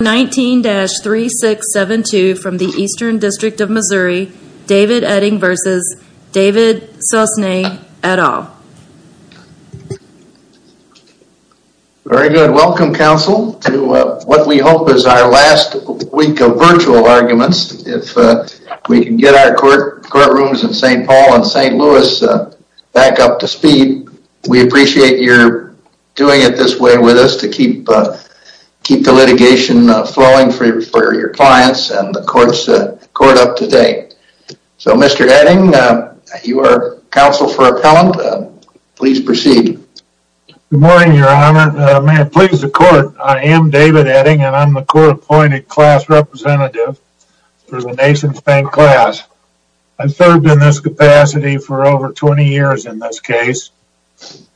19-3672 from the Eastern District of Missouri, David Oetting v. David Sosne, et al. Very good. Welcome, counsel, to what we hope is our last week of virtual arguments. If we can get our courtrooms in St. Paul and St. Louis back up to speed, we appreciate your doing it this way with us to keep the litigation flowing for your clients and the court up to date. So Mr. Oetting, you are counsel for appellant. Please proceed. Good morning, Your Honor. May it please the court, I am David Oetting and I'm the court-appointed class representative for the nation's bank class. I've served in this capacity for over 20 years in this case.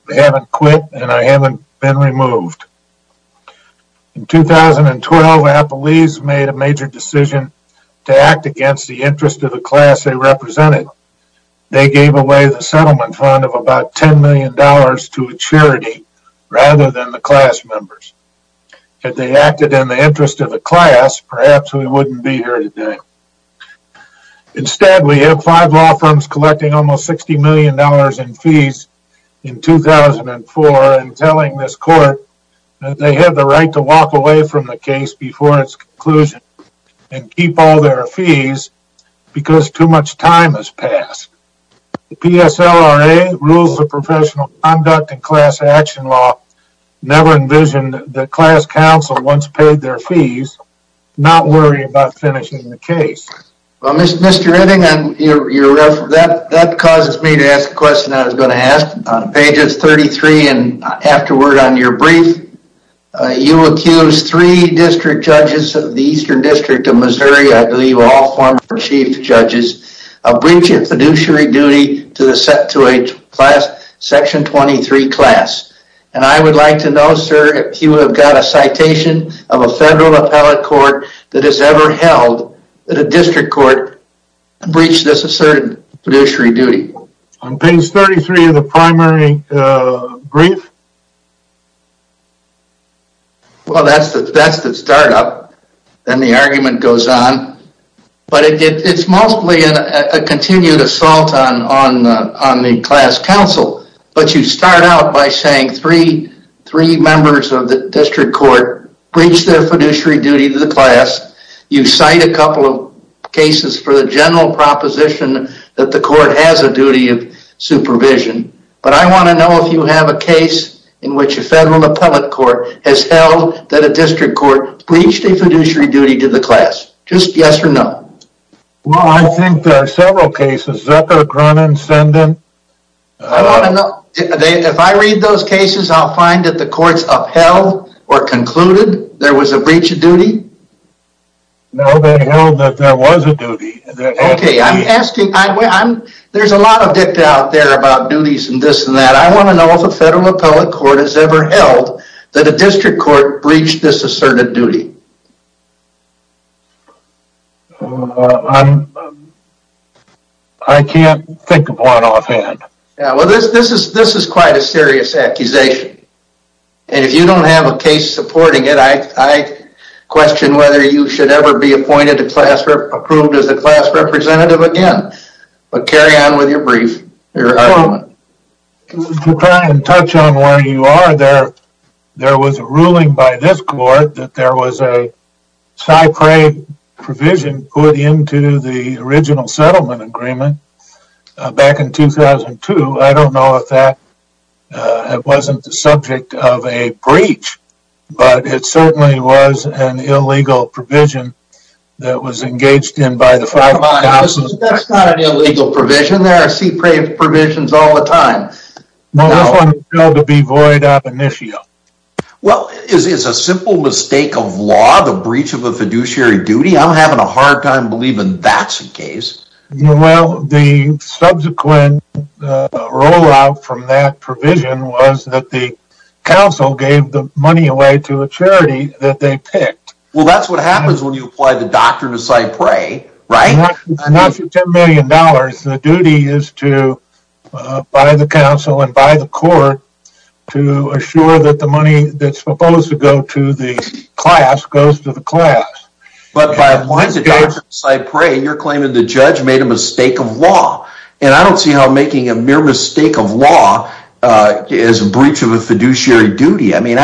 I haven't quit and I haven't been removed. In 2012, Appellees made a major decision to act against the interest of the class they represented. They gave away the settlement fund of about $10 million to a charity rather than the class members. Had they acted in the interest of the class, perhaps we wouldn't be here today. Instead, we have five law firms collecting almost $60 million in fees in 2004 and telling this court that they have the right to walk away from the case before its conclusion and keep all their fees because too much time has passed. The PSLRA rules of professional conduct and class action law never envisioned that class counsel, once paid their fees, not worry about finishing the case. Well, Mr. Oetting, that causes me to ask a question I was going to ask. Pages 33 and afterward on your brief, you accused three district judges of the Eastern District of Missouri, I believe all former chief judges, of breaching fiduciary duty to a class, Section 23 class. And I would like to know, sir, if you have got a citation of a federal appellate court that has ever held that a district court breached this asserted fiduciary duty. On page 33 of the primary brief? Well, that's the start up. Then the argument goes on. But it's mostly a continued assault on the class counsel. But you start out by saying three members of the district court breached their fiduciary duty to the class. You cite a couple of cases for the general proposition that the court has a duty of supervision. But I want to know if you have a case in which a federal appellate court has held that a district court breached a fiduciary duty to the class. Just yes or no. Well, I think there are several cases. If I read those cases, I'll find that the courts upheld or concluded there was a breach of duty. No, they held that there was a duty. Okay, I'm asking. There's a lot of dicta out there about duties and this and that. I want to know if a federal appellate court has ever held that a district court breached this asserted duty. I can't think of one offhand. Yeah, well, this is quite a serious accusation. And if you don't have a case supporting it, I question whether you should ever be approved as a class representative again. But carry on with your brief. Just to try and touch on where you are, there was a ruling by this court that there was a SIPRE provision put into the original settlement agreement back in 2002. I don't know if that wasn't the subject of a breach. But it certainly was an illegal provision that was engaged in by the five thousand. Come on, that's not an illegal provision. There are SIPRE provisions all the time. No, this one was held to be void ab initio. Well, is a simple mistake of law the breach of a fiduciary duty? I'm having a hard time believing that's the case. Well, the subsequent rollout from that provision was that the council gave the money away to a charity that they picked. Well, that's what happens when you apply the doctrine of SIPRE, right? Not for ten million dollars. The duty is to, by the council and by the court, to assure that the money that's supposed to go to the class goes to the class. But by applying the doctrine of SIPRE, you're claiming the judge made a mistake of law. And I don't see how making a mere mistake of law is a breach of a fiduciary duty. I mean,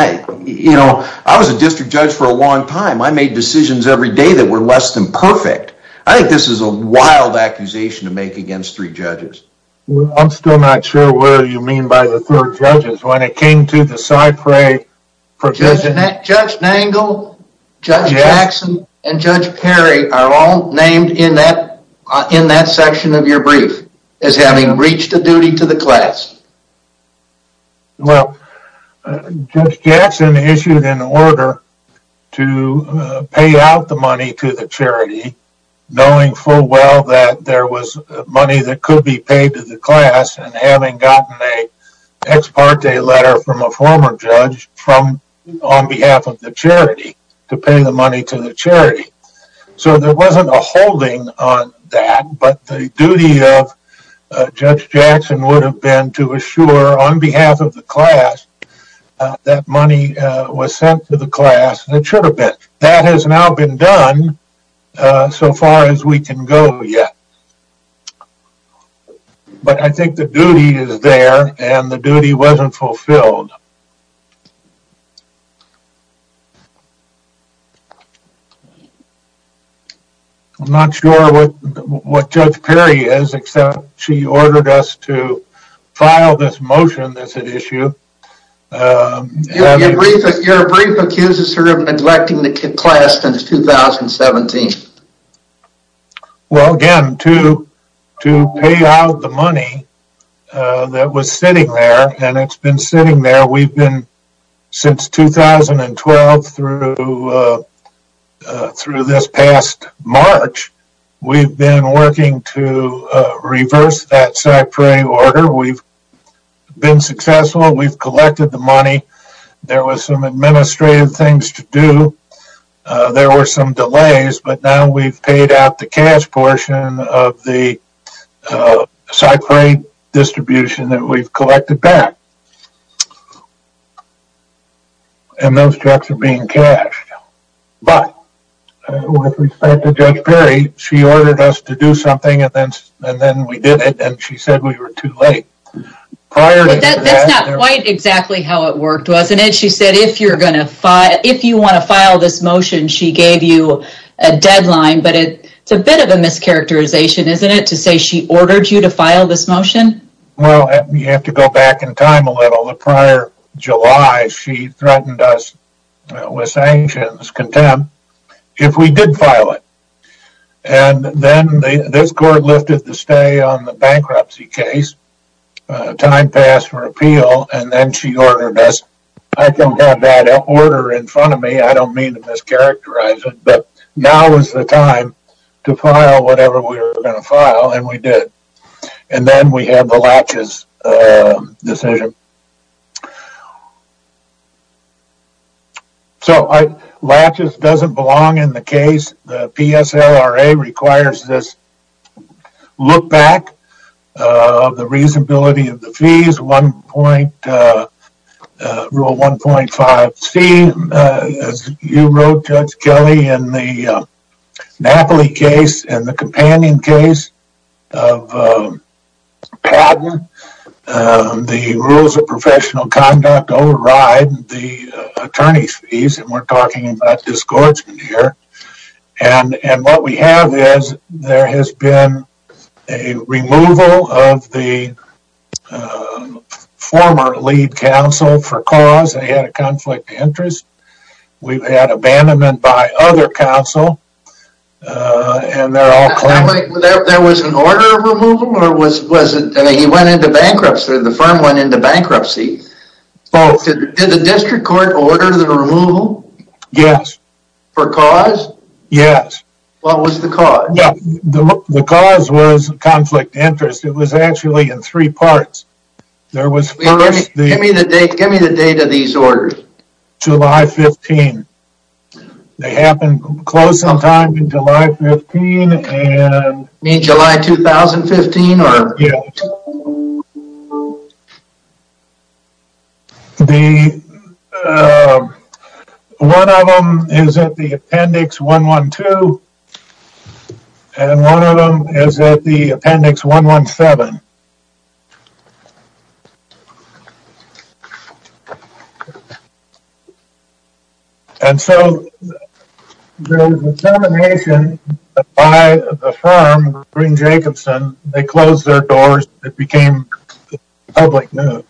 you know, I was a district judge for a long time. I made decisions every day that were less than perfect. I think this is a wild accusation to make against three judges. Well, I'm still not sure what you mean by the third judges. When it came to the SIPRE provision... Judge Nangle, Judge Jackson, and Judge Perry are all named in that section of your brief as having reached a duty to the class. Well, Judge Jackson issued an order to pay out the money to the charity, knowing full well that there was money that could be paid to the class, and having gotten an ex parte letter from a former judge on behalf of the charity, to pay the money to the charity. So there wasn't a holding on that, but the duty of Judge Jackson would have been to assure on behalf of the class that money was sent to the class, and it should have been. That has now been done, so far as we can go yet. But I think the duty is there, and the duty wasn't fulfilled. I'm not sure what Judge Perry is, except she ordered us to file this motion that's at issue. Your brief accuses her of neglecting the class since 2017. Well, again, to pay out the money that was sitting there, and it's been sitting there. We've been, since 2012 through this past March, we've been working to reverse that CyPray order. We've been successful, we've collected the money. There was some administrative things to do. There were some delays, but now we've paid out the cash portion of the CyPray distribution that we've collected back. And those checks are being cashed. But, with respect to Judge Perry, she ordered us to do something, and then we did it, and she said we were too late. But that's not quite exactly how it worked, wasn't it? She said if you want to file this motion, she gave you a deadline, but it's a bit of a mischaracterization, isn't it, to say she ordered you to file this motion? Well, you have to go back in time a little. The prior July, she threatened us with sanctions, contempt, if we did file it. And then this court lifted the stay on the bankruptcy case, time passed for appeal, and then she ordered us, I don't have that order in front of me, I don't mean to mischaracterize it, but now is the time to file whatever we were going to file, and we did. And then we had the Latches decision. So, Latches doesn't belong in the case. The PSLRA requires this look back of the reasonability of the fees, Rule 1.5C, as you wrote Judge Padden, the rules of professional conduct override the attorney's fees, and we're talking about disgorgement here. And what we have is, there has been a removal of the former lead counsel for cause, they had a conflict of interest. We've had abandonment by other counsel, and they're all claiming... There was an order of removal, and he went into bankruptcy, the firm went into bankruptcy. Both. Did the district court order the removal? Yes. For cause? Yes. What was the cause? The cause was conflict of interest. It was actually in three parts. Give me the date of these orders. July 15. They happened close on time in July 15, and... You mean July 2015? Yeah. One of them is at the appendix 112, and one of them is at the appendix 117. And so, the determination by the firm, Green-Jacobson, they closed their doors, it became public news.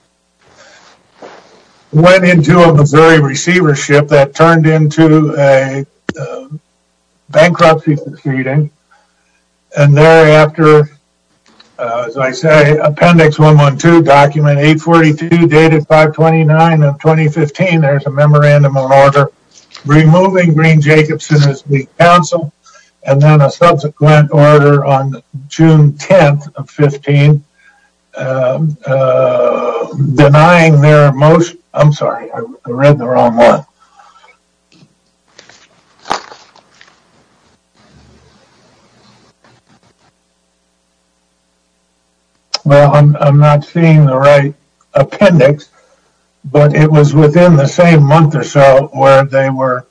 Went into a Missouri receivership that turned into a bankruptcy proceeding, and thereafter, as I say, appendix 112, document 842, dated 5-29-2015. There's a memorandum of order removing Green-Jacobson as lead counsel, and then a subsequent order on June 10th of 15, denying their motion... I'm sorry, I read the wrong one. Well, I'm not seeing the right appendix, but it was within the same month or so where they were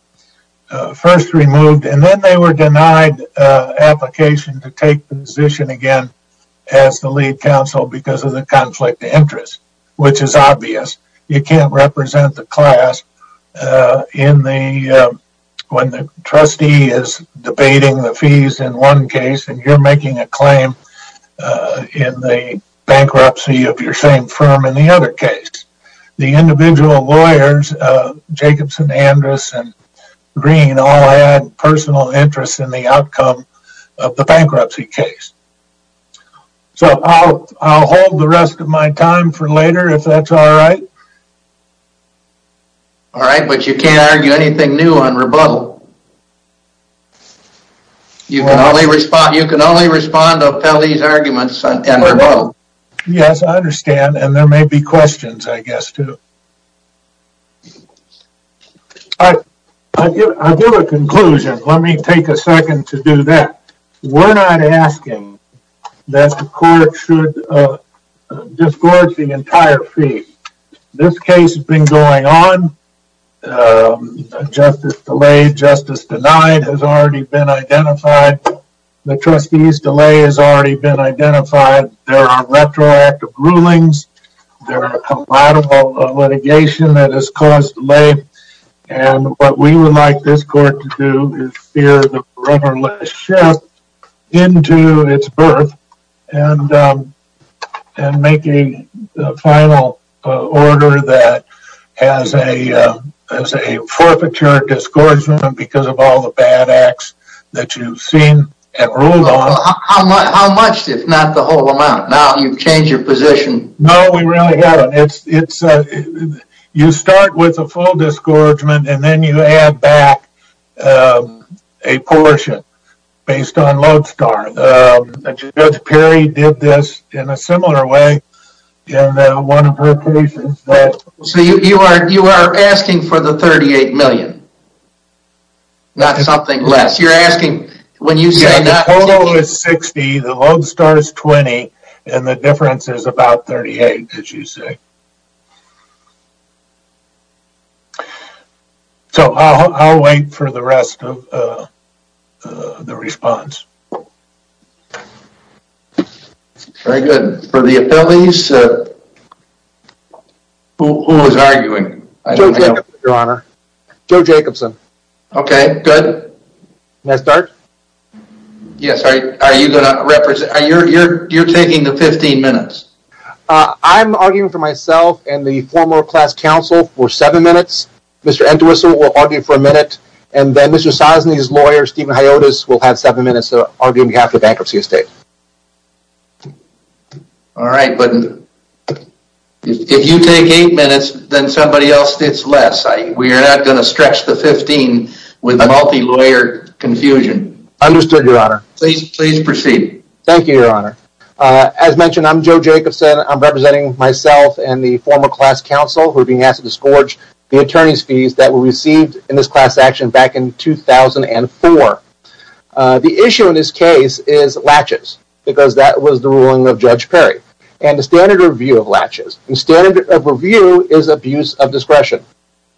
first removed, and then they were denied application to take the position again as the lead counsel because of the conflict of interest, which is obvious. You can't represent the class when the trustee is debating the fees in one case, and you're not representing a claim in the bankruptcy of your same firm in the other case. The individual lawyers, Jacobson, Andrus, and Green, all had personal interests in the outcome of the bankruptcy case. So, I'll hold the rest of my time for later, if that's all right. All right, but you can't argue anything new on rebuttal. You can only respond to O'Felly's arguments on rebuttal. Yes, I understand, and there may be questions, I guess, too. I'll give a conclusion. Let me take a second to do that. We're not asking that the court should disgorge the entire fee. This case has been going on. Justice delayed, justice denied has already been identified. The trustee's delay has already been identified. There are retroactive rulings. There are compatible litigation that has caused delay, and what we would like this court to do is spear the brotherless ship into its birth and make a final order that has a forfeiture disgorgement because of all the bad acts that you've seen and ruled on. How much, if not the whole amount? Now, you've changed your position. No, we really haven't. You start with a full disgorgement, and then you add back a portion based on lodestar. Judge Perry did this in a similar way in one of her cases. So, you are asking for the $38 million, not something less. The total is $60,000, the lodestar is $20,000, and the difference is about $38,000, as you say. So, I'll wait for the rest of the response. Very good. For the affiliates, who was arguing? Joe Jacobson, Your Honor. Joe Jacobson. Okay, good. Can I start? Yes. Are you going to represent? You're taking the 15 minutes. I'm arguing for myself and the former class counsel for seven minutes. Mr. Entwistle will argue for a minute, and then Mr. Sosny's lawyer, Stephen Hiotis, will have seven minutes to argue on behalf of Bankruptcy Estate. All right, but if you take eight minutes, then somebody else gets less. We are not going to stretch the 15 with multi-lawyer confusion. Understood, Your Honor. Please proceed. Thank you, Your Honor. As mentioned, I'm Joe Jacobson. I'm representing myself and the former class counsel who are being asked to scourge the attorney's fees that were received in this class action back in 2004. The issue in this case is latches, because that was the ruling of Judge Perry. And the standard of review of latches, the standard of review is abuse of discretion.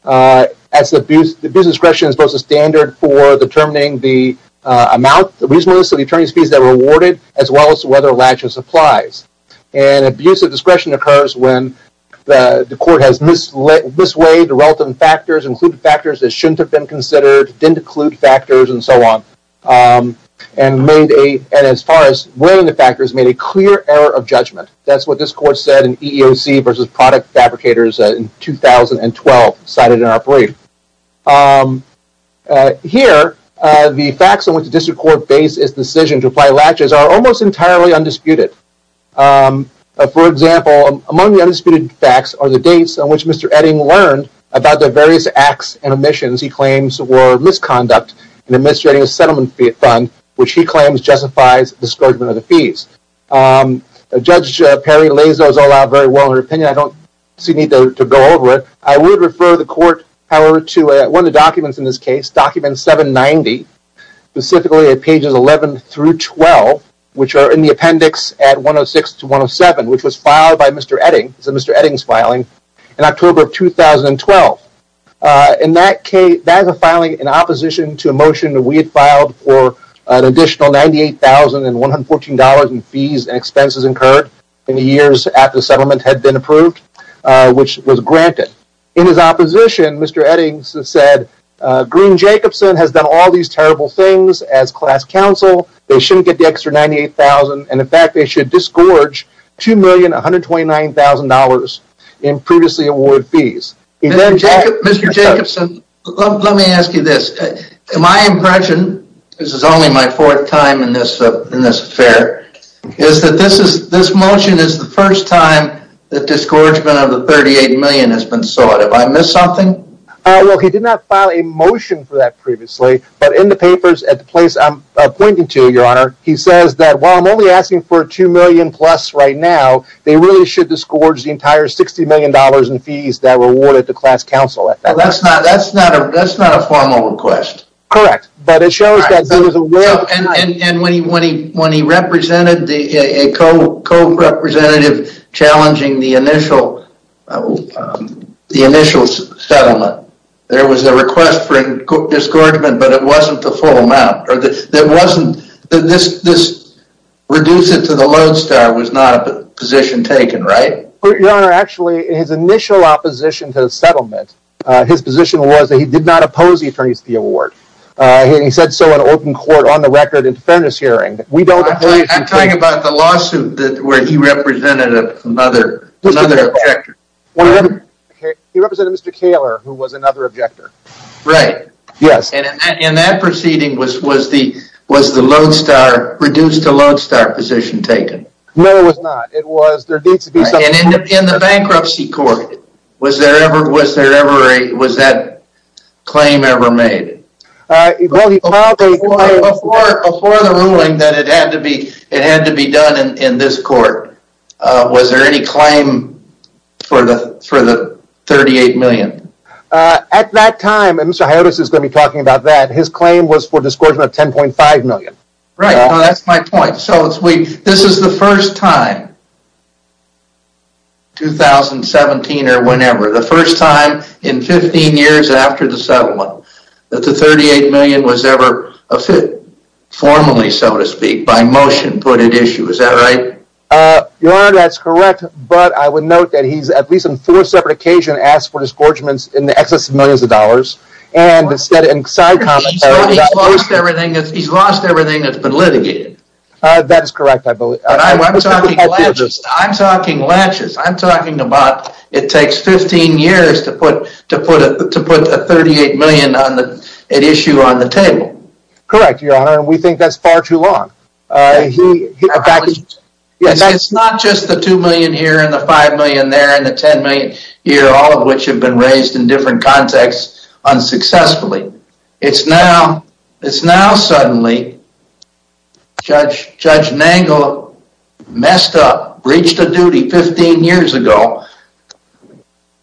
Abuse of discretion is both a standard for determining the amount, the reasonableness of the attorney's fees that were awarded, as well as whether a latches applies. And abuse of discretion occurs when the court has mislaid the relevant factors, included factors that shouldn't have been considered, didn't include factors, and so on. And as far as weighing the factors, made a clear error of judgment. That's what this court said in EEOC v. Product Fabricators in 2012, cited in our brief. Here, the facts on which the district court based its decision to apply latches are almost entirely undisputed. For example, among the undisputed facts are the dates on which Mr. Edding learned about the various acts and omissions he claims were misconduct in administrating a settlement fee fund, which he claims justifies the scourgement of the fees. Judge Perry lays those all out very well in her opinion. I don't see the need to go over it. I would refer the court, however, to one of the documents in this case, document 790, specifically at pages 11 through 12, which are in the appendix at 106 to 107, which was filed by Mr. Edding, it's a Mr. Edding's filing, in October of 2012. And that case, that is a filing in opposition to a motion that we had filed for an additional $98,114 in fees and expenses incurred in the years after the settlement had been approved, which was granted. In his opposition, Mr. Edding said, Green-Jacobson has done all these terrible things as class counsel, they shouldn't get the extra $98,000, and in fact they should disgorge $2,129,000 in previously awarded fees. Mr. Jacobson, let me ask you this. My impression, this is only my fourth time in this affair, is that this motion is the first time that disgorgement of the $38,000,000 has been sought. Have I missed something? Well, he did not file a motion for that previously, but in the papers at the place I'm pointing to, Your Honor, he says that while I'm only asking for $2,000,000 plus right now, they really should disgorge the entire $60,000,000 in fees that were awarded to class counsel. That's not a formal request. Correct. But it shows that there was a will... And when he represented a co-representative challenging the initial settlement, there was a request for disgorgement, but it wasn't the full amount. This reduce it to the lodestar was not a position taken, right? Your Honor, actually, his initial opposition to the settlement, his position was that he did not oppose the attorney's fee award. He said so in open court on the record in the fairness hearing. I'm talking about the lawsuit where he represented another objector. He represented Mr. Kaler, who was another objector. Right. Yes. In that proceeding, was the lodestar, reduce to lodestar position taken? No, it was not. It was... In the bankruptcy court, was that claim ever made? Before the ruling that it had to be done in this court, was there any claim for the $38,000,000? At that time, and Mr. Hiotis is going to be talking about that, his claim was for disgorgement of $10,500,000. Right. That's my point. This is the first time, 2017 or whenever, the first time in 15 years after the settlement, that the $38,000,000 was ever formally, so to speak, by motion put at issue. Is that right? Your Honor, that's correct. But I would note that he's at least on four separate occasions asked for disgorgements in the excess of millions of dollars. He's lost everything that's been litigated. That is correct. I'm talking latches. I'm talking about it takes 15 years to put a $38,000,000 at issue on the table. Correct, Your Honor. We think that's far too long. It's not just the $2,000,000 here and the $5,000,000 there and the $10,000,000 here, all of which have been raised in different contexts unsuccessfully. It's now suddenly Judge Nagle messed up, breached a duty 15 years ago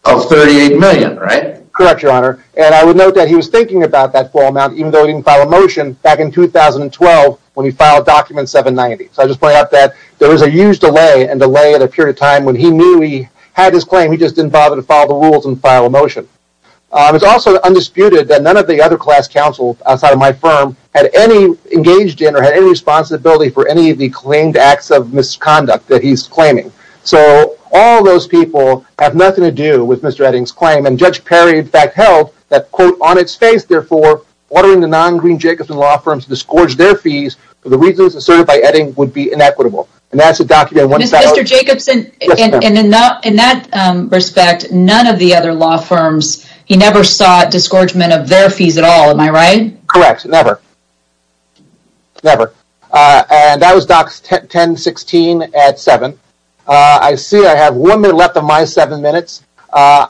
of $38,000,000, right? Correct, Your Honor. I would note that he was thinking about that full amount, even though he didn't file a So I'm just pointing out that there was a huge delay and delay at a period of time when he knew he had his claim. He just didn't bother to follow the rules and file a motion. It's also undisputed that none of the other class counsel outside of my firm had any engaged in or had any responsibility for any of the claimed acts of misconduct that he's claiming. So all those people have nothing to do with Mr. Edding's claim. And Judge Perry, in fact, held that, quote, On its face, therefore, ordering the non-Green Jacobson law firms to disgorge their fees for the reasons asserted by Edding would be inequitable. And that's a document... Mr. Jacobson, in that respect, none of the other law firms, he never sought disgorgement of their fees at all. Am I right? Correct. Never. Never. And that was Docs 10-16 at 7. I see I have one minute left of my seven minutes. And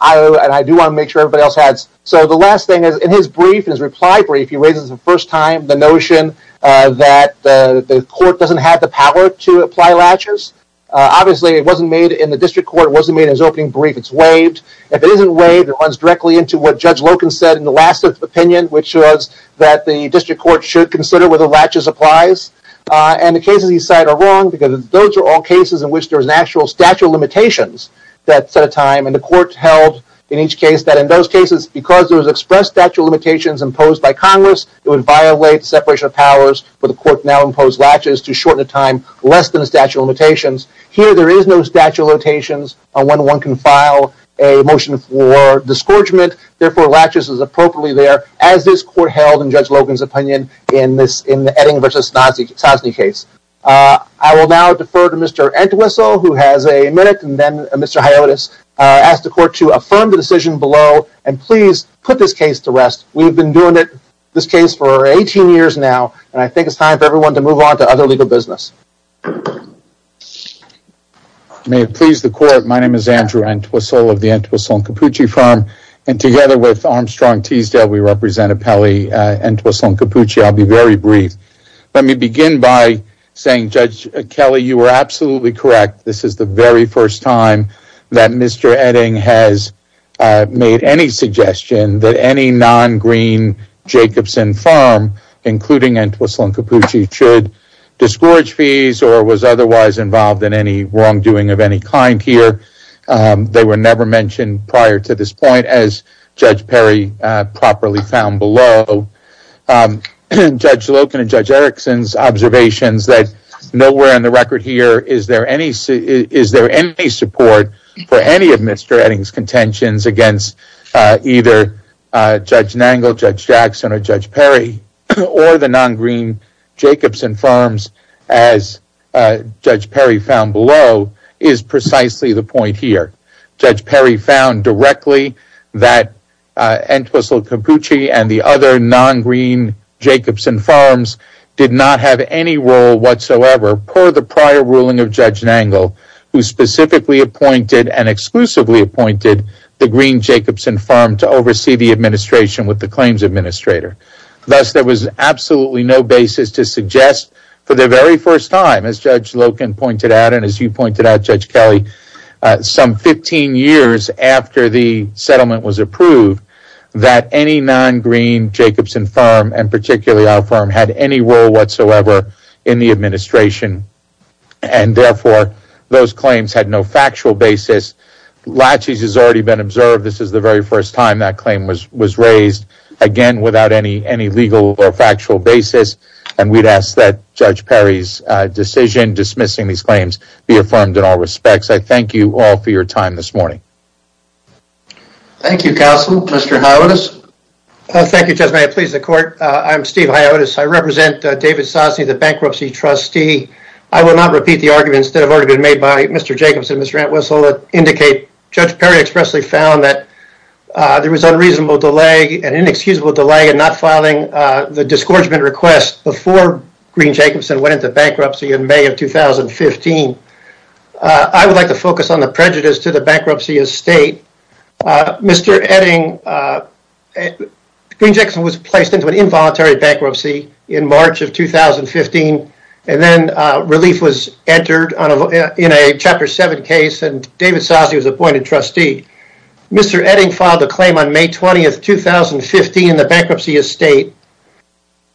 I do want to make sure everybody else has. So the last thing is, in his brief, his reply brief, he raises for the first time the notion that the court doesn't have the power to apply latches. Obviously, it wasn't made in the district court, it wasn't made in his opening brief. It's waived. If it isn't waived, it runs directly into what Judge Loken said in the last opinion, which was that the district court should consider whether latches applies. And the cases he cited are wrong because those are all cases in which there is an actual statute of limitations that set a time. And the court held in each case that in those cases, because there was expressed statute of limitations imposed by Congress, it would violate the separation of powers for the court to now impose latches to shorten the time less than the statute of limitations. Here, there is no statute of limitations on when one can file a motion for disgorgement. Therefore, latches is appropriately there, as this court held in Judge Loken's opinion in the Edding v. Sosny case. I will now defer to Mr. Entwistle, who has a minute, and then Mr. Hiotis. I ask the court to affirm the decision below, and please put this case to rest. We've been doing this case for 18 years now, and I think it's time for everyone to move on to other legal business. May it please the court, my name is Andrew Entwistle of the Entwistle & Cappucci firm, and together with Armstrong Teasdale, we represent Appellee Entwistle & Cappucci. I'll be very brief. Let me begin by saying, Judge Kelly, you were absolutely correct. This is the very first time that Mr. Edding has made any suggestion that any non-green Jacobson firm, including Entwistle & Cappucci, should disgorge fees or was otherwise involved in any wrongdoing of any kind here. They were never mentioned prior to this point, as Judge Perry properly found below. Judge Loken and Judge Erickson's observations that nowhere in the record here is there any support for any of Mr. Edding's contentions against either Judge Nangle, Judge Jackson, or Judge Perry, or the non-green Jacobson firms, as Judge Perry found below, is precisely the point here. Judge Perry found directly that Entwistle & Cappucci and the other non-green Jacobson firms did not have any role whatsoever per the prior ruling of Judge Nangle, who specifically appointed and exclusively appointed the green Jacobson firm to oversee the administration with the claims administrator. Thus, there was absolutely no basis to suggest for the very first time, as Judge Loken pointed out and as you pointed out, Judge Kelly, some 15 years after the settlement was approved, that any non-green Jacobson firm, and particularly our firm, had any role whatsoever in the administration. Therefore, those claims had no factual basis. Latches has already been observed. This is the very first time that claim was raised, again, without any legal or factual basis. And we'd ask that Judge Perry's decision dismissing these claims be affirmed in all respects. I thank you all for your time this morning. Thank you, Counsel. Mr. Hiotis? Thank you, Judge Mayer. Please, the court. I'm Steve Hiotis. I represent David Sosny, the bankruptcy trustee. I will not repeat the arguments that have already been made by Mr. Jacobson and Mr. Entwistle that indicate Judge Perry expressly found that there was unreasonable delay and inexcusable delay in not filing the disgorgement request before Green Jacobson went into bankruptcy in May of 2015. I would like to focus on the prejudice to the bankruptcy estate. Mr. Edding, Green Jacobson was placed into an involuntary bankruptcy in March of 2015 and then relief was entered in a Chapter 7 case and David Sosny was appointed trustee. Mr. Edding filed a claim on May 20th, 2015 in the bankruptcy estate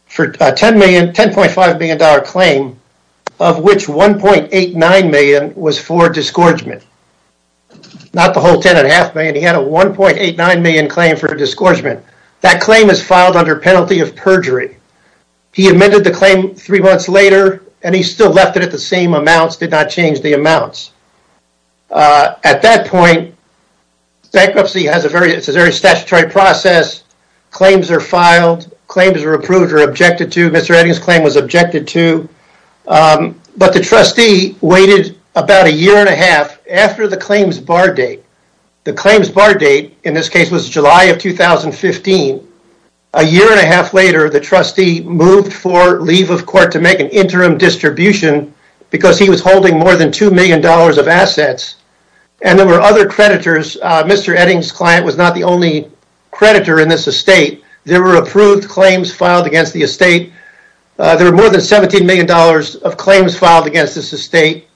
for a $10.5 million claim of which $1.89 million was for disgorgement. Not the whole $10.5 million. He had a $1.89 million claim for disgorgement. That claim is filed under penalty of perjury. He amended the claim three months later and he still left it at the same amounts, did not change the amounts. At that point, bankruptcy is a very statutory process. Claims are filed. Claims are approved or objected to. Mr. Edding's claim was objected to. But the trustee waited about a year and a half after the claims bar date. The claims bar date in this case was July of 2015. A year and a half later, the trustee moved for leave of court to make an interim distribution because he was holding more than $2 million of assets. And there were other creditors. Mr. Edding's client was not the only creditor in this estate. There were approved claims filed against the estate. There were more than $17 million of claims filed against this estate.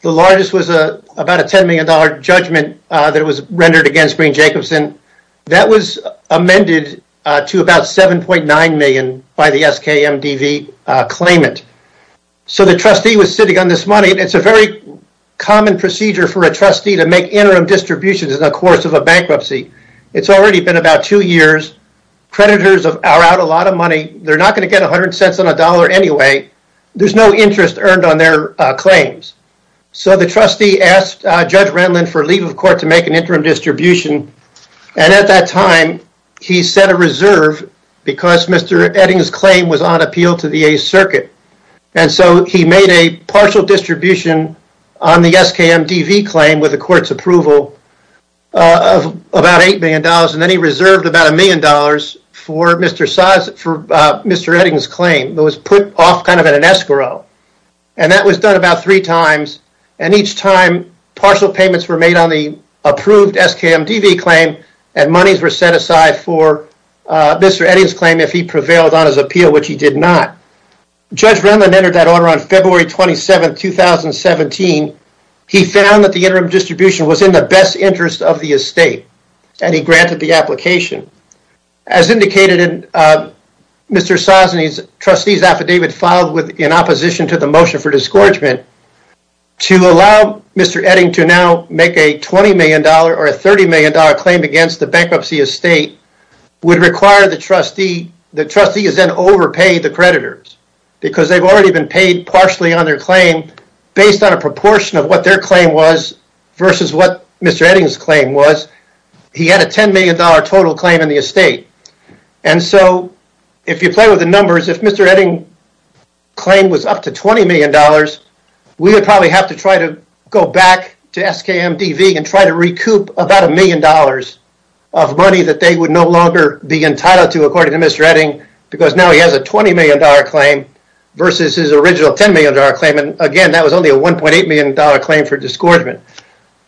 The largest was about a $10 million judgment that was rendered against Green Jacobson. That was amended to about $7.9 million by the SKMDV claimant. So the trustee was sitting on this money. It's a very common procedure for a trustee to make interim distributions in the course of a bankruptcy. It's already been about two years. Creditors are out a lot of money. They're not going to get 100 cents on a dollar anyway. There's no interest earned on their claims. So the trustee asked Judge Renlund for leave of court to make an interim distribution. And at that time, he set a reserve because Mr. Edding's claim was on appeal to the 8th Circuit. And so he made a partial distribution on the SKMDV claim with the court's approval of about $8 million. And then he reserved about $1 million for Mr. Edding's claim. It was put off kind of at an escrow. And that was done about three times. And each time, partial payments were made on the approved SKMDV claim. And monies were set aside for Mr. Edding's claim if he prevailed on his appeal, which he did not. Judge Renlund entered that order on February 27, 2017. He found that the interim distribution was in the best interest of the estate. And he granted the application. As indicated in Mr. Sosny's trustee's affidavit filed in opposition to the motion for discouragement, to allow Mr. Edding to now make a $20 million or a $30 million claim against the bankruptcy estate would require the trustee, the trustee has then overpaid the creditors because they've already been paid partially on their claim based on a proportion of what their claim was versus what Mr. Edding's claim was. He had a $10 million total claim in the estate. And so if you play with the numbers, if Mr. Edding's claim was up to $20 million, we would probably have to try to go back to SKMDV and try to recoup about a million dollars of money that they would no longer be entitled to according to Mr. Edding because now he has a $20 million claim versus his original $10 million claim. And again, that was only a $1.8 million claim for discouragement.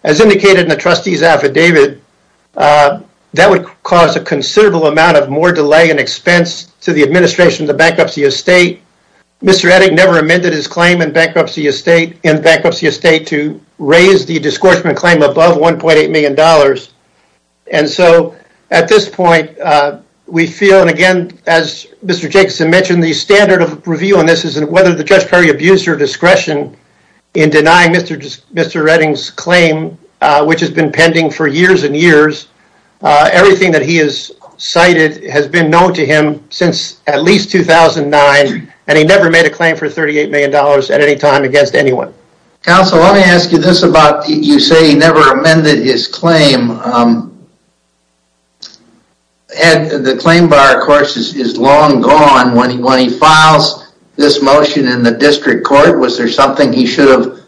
As indicated in the trustee's affidavit, that would cause a considerable amount of more delay and expense to the administration of the bankruptcy estate. Mr. Edding never amended his claim in bankruptcy estate to raise the discouragement claim above $1.8 million. And so at this point, we feel, and again, as Mr. Jacobson mentioned, the standard of review on this is whether the Judge Perry abused her discretion in denying Mr. Edding's claim, which has been pending for years and years. Everything that he has cited has been known to him since at least 2009, and he never made a claim for $38 million at any time against anyone. Counsel, let me ask you this about you say he never amended his claim. The claim bar, of course, is long gone. When he files this motion in the district court, was there something he should have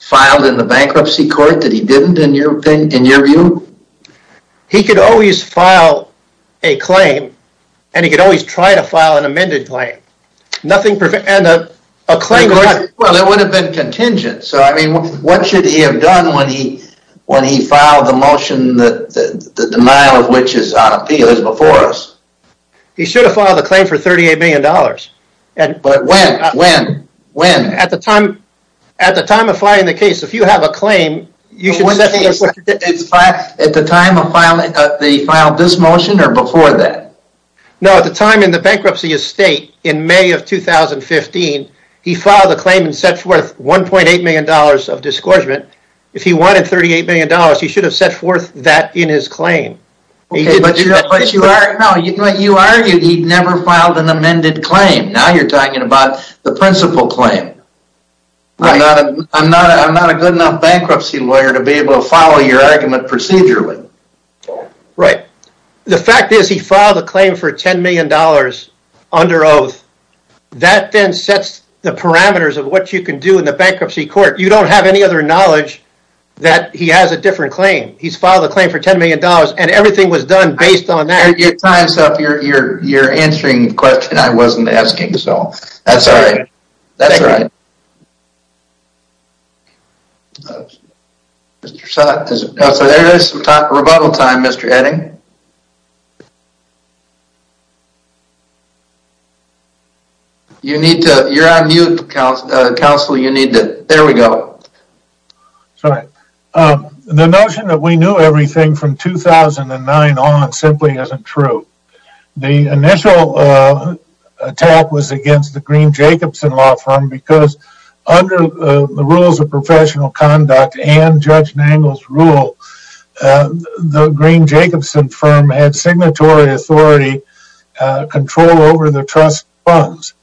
filed in the bankruptcy court that he didn't, in your view? He could always file a claim, and he could always try to file an amended claim. Well, it would have been contingent. So, I mean, what should he have done when he filed the motion that the denial of which is on appeal is before us? He should have filed a claim for $38 million. But when? When? When? At the time of filing the case, if you have a claim, you should set forth. At the time of filing, he filed this motion or before that? No, at the time in the bankruptcy estate in May of 2015, he filed a claim and set forth $1.8 million of disgorgement. If he wanted $38 million, he should have set forth that in his claim. But you argued he never filed an amended claim. Now you're talking about the principal claim. I'm not a good enough bankruptcy lawyer to be able to follow your argument procedurally. Right. The fact is he filed a claim for $10 million under oath. That then sets the parameters of what you can do in the bankruptcy court. You don't have any other knowledge that he has a different claim. He's filed a claim for $10 million and everything was done based on that. You're answering the question I wasn't asking. So, that's all right. That's all right. So, there is some time for rebuttal, Mr. Edding. You're on mute, counsel. There we go. Sorry. The notion that we knew everything from 2009 on simply isn't true. The initial attack was against the Green-Jacobson law firm because under the rules of professional conduct and Judge Nagle's rule, the Green-Jacobson firm had signatory authority control over the trust funds.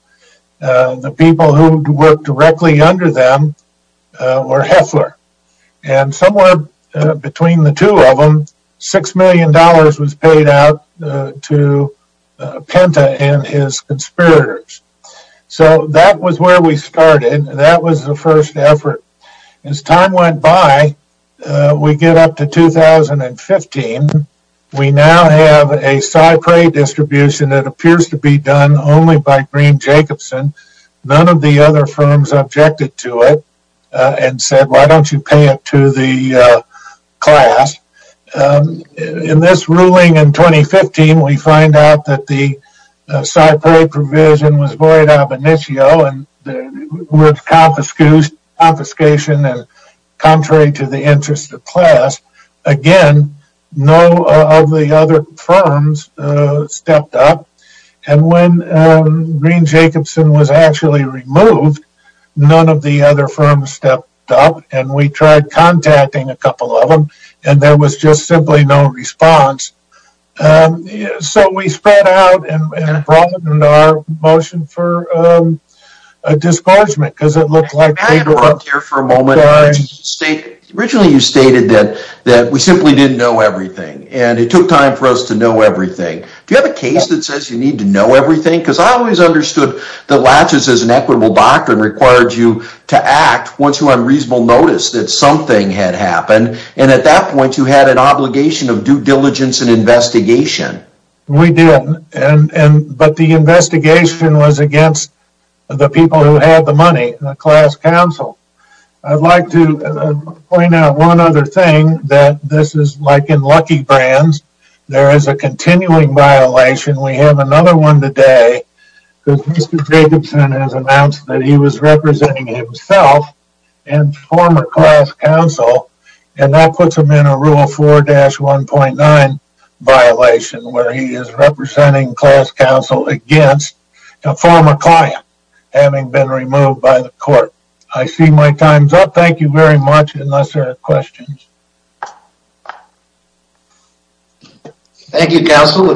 The people who worked directly under them were Heffler. And somewhere between the two of them, $6 million was paid out to Penta and his conspirators. So, that was where we started. That was the first effort. As time went by, we get up to 2015. We now have a Cypre distribution that appears to be done only by Green-Jacobson. None of the other firms objected to it and said, why don't you pay it to the class? In this ruling in 2015, we find out that the Cypre provision was void ab initio with confiscation and contrary to the interest of class. Again, none of the other firms stepped up. And when Green-Jacobson was actually removed, none of the other firms stepped up and we tried contacting a couple of them and there was just simply no response. So, we spread out and brought in our motion for a discouragement. Because it looked like... Can I interrupt here for a moment? Originally, you stated that we simply didn't know everything. And it took time for us to know everything. Do you have a case that says you need to know everything? Because I always understood that Latches, as an equitable doctrine, required you to act once you had a reasonable notice that something had happened. And at that point, you had an obligation of due diligence and investigation. We did. But the investigation was against the people who had the money, the class counsel. I'd like to point out one other thing that this is like in lucky brands. There is a continuing violation. We have another one today. Mr. Jacobson has announced that he was representing himself and former class counsel. And that puts him in a Rule 4-1.9 violation where he is representing class counsel against a former client having been removed by the court. I see my time is up. Thank you very much. Unless there are questions. Thank you, counsel.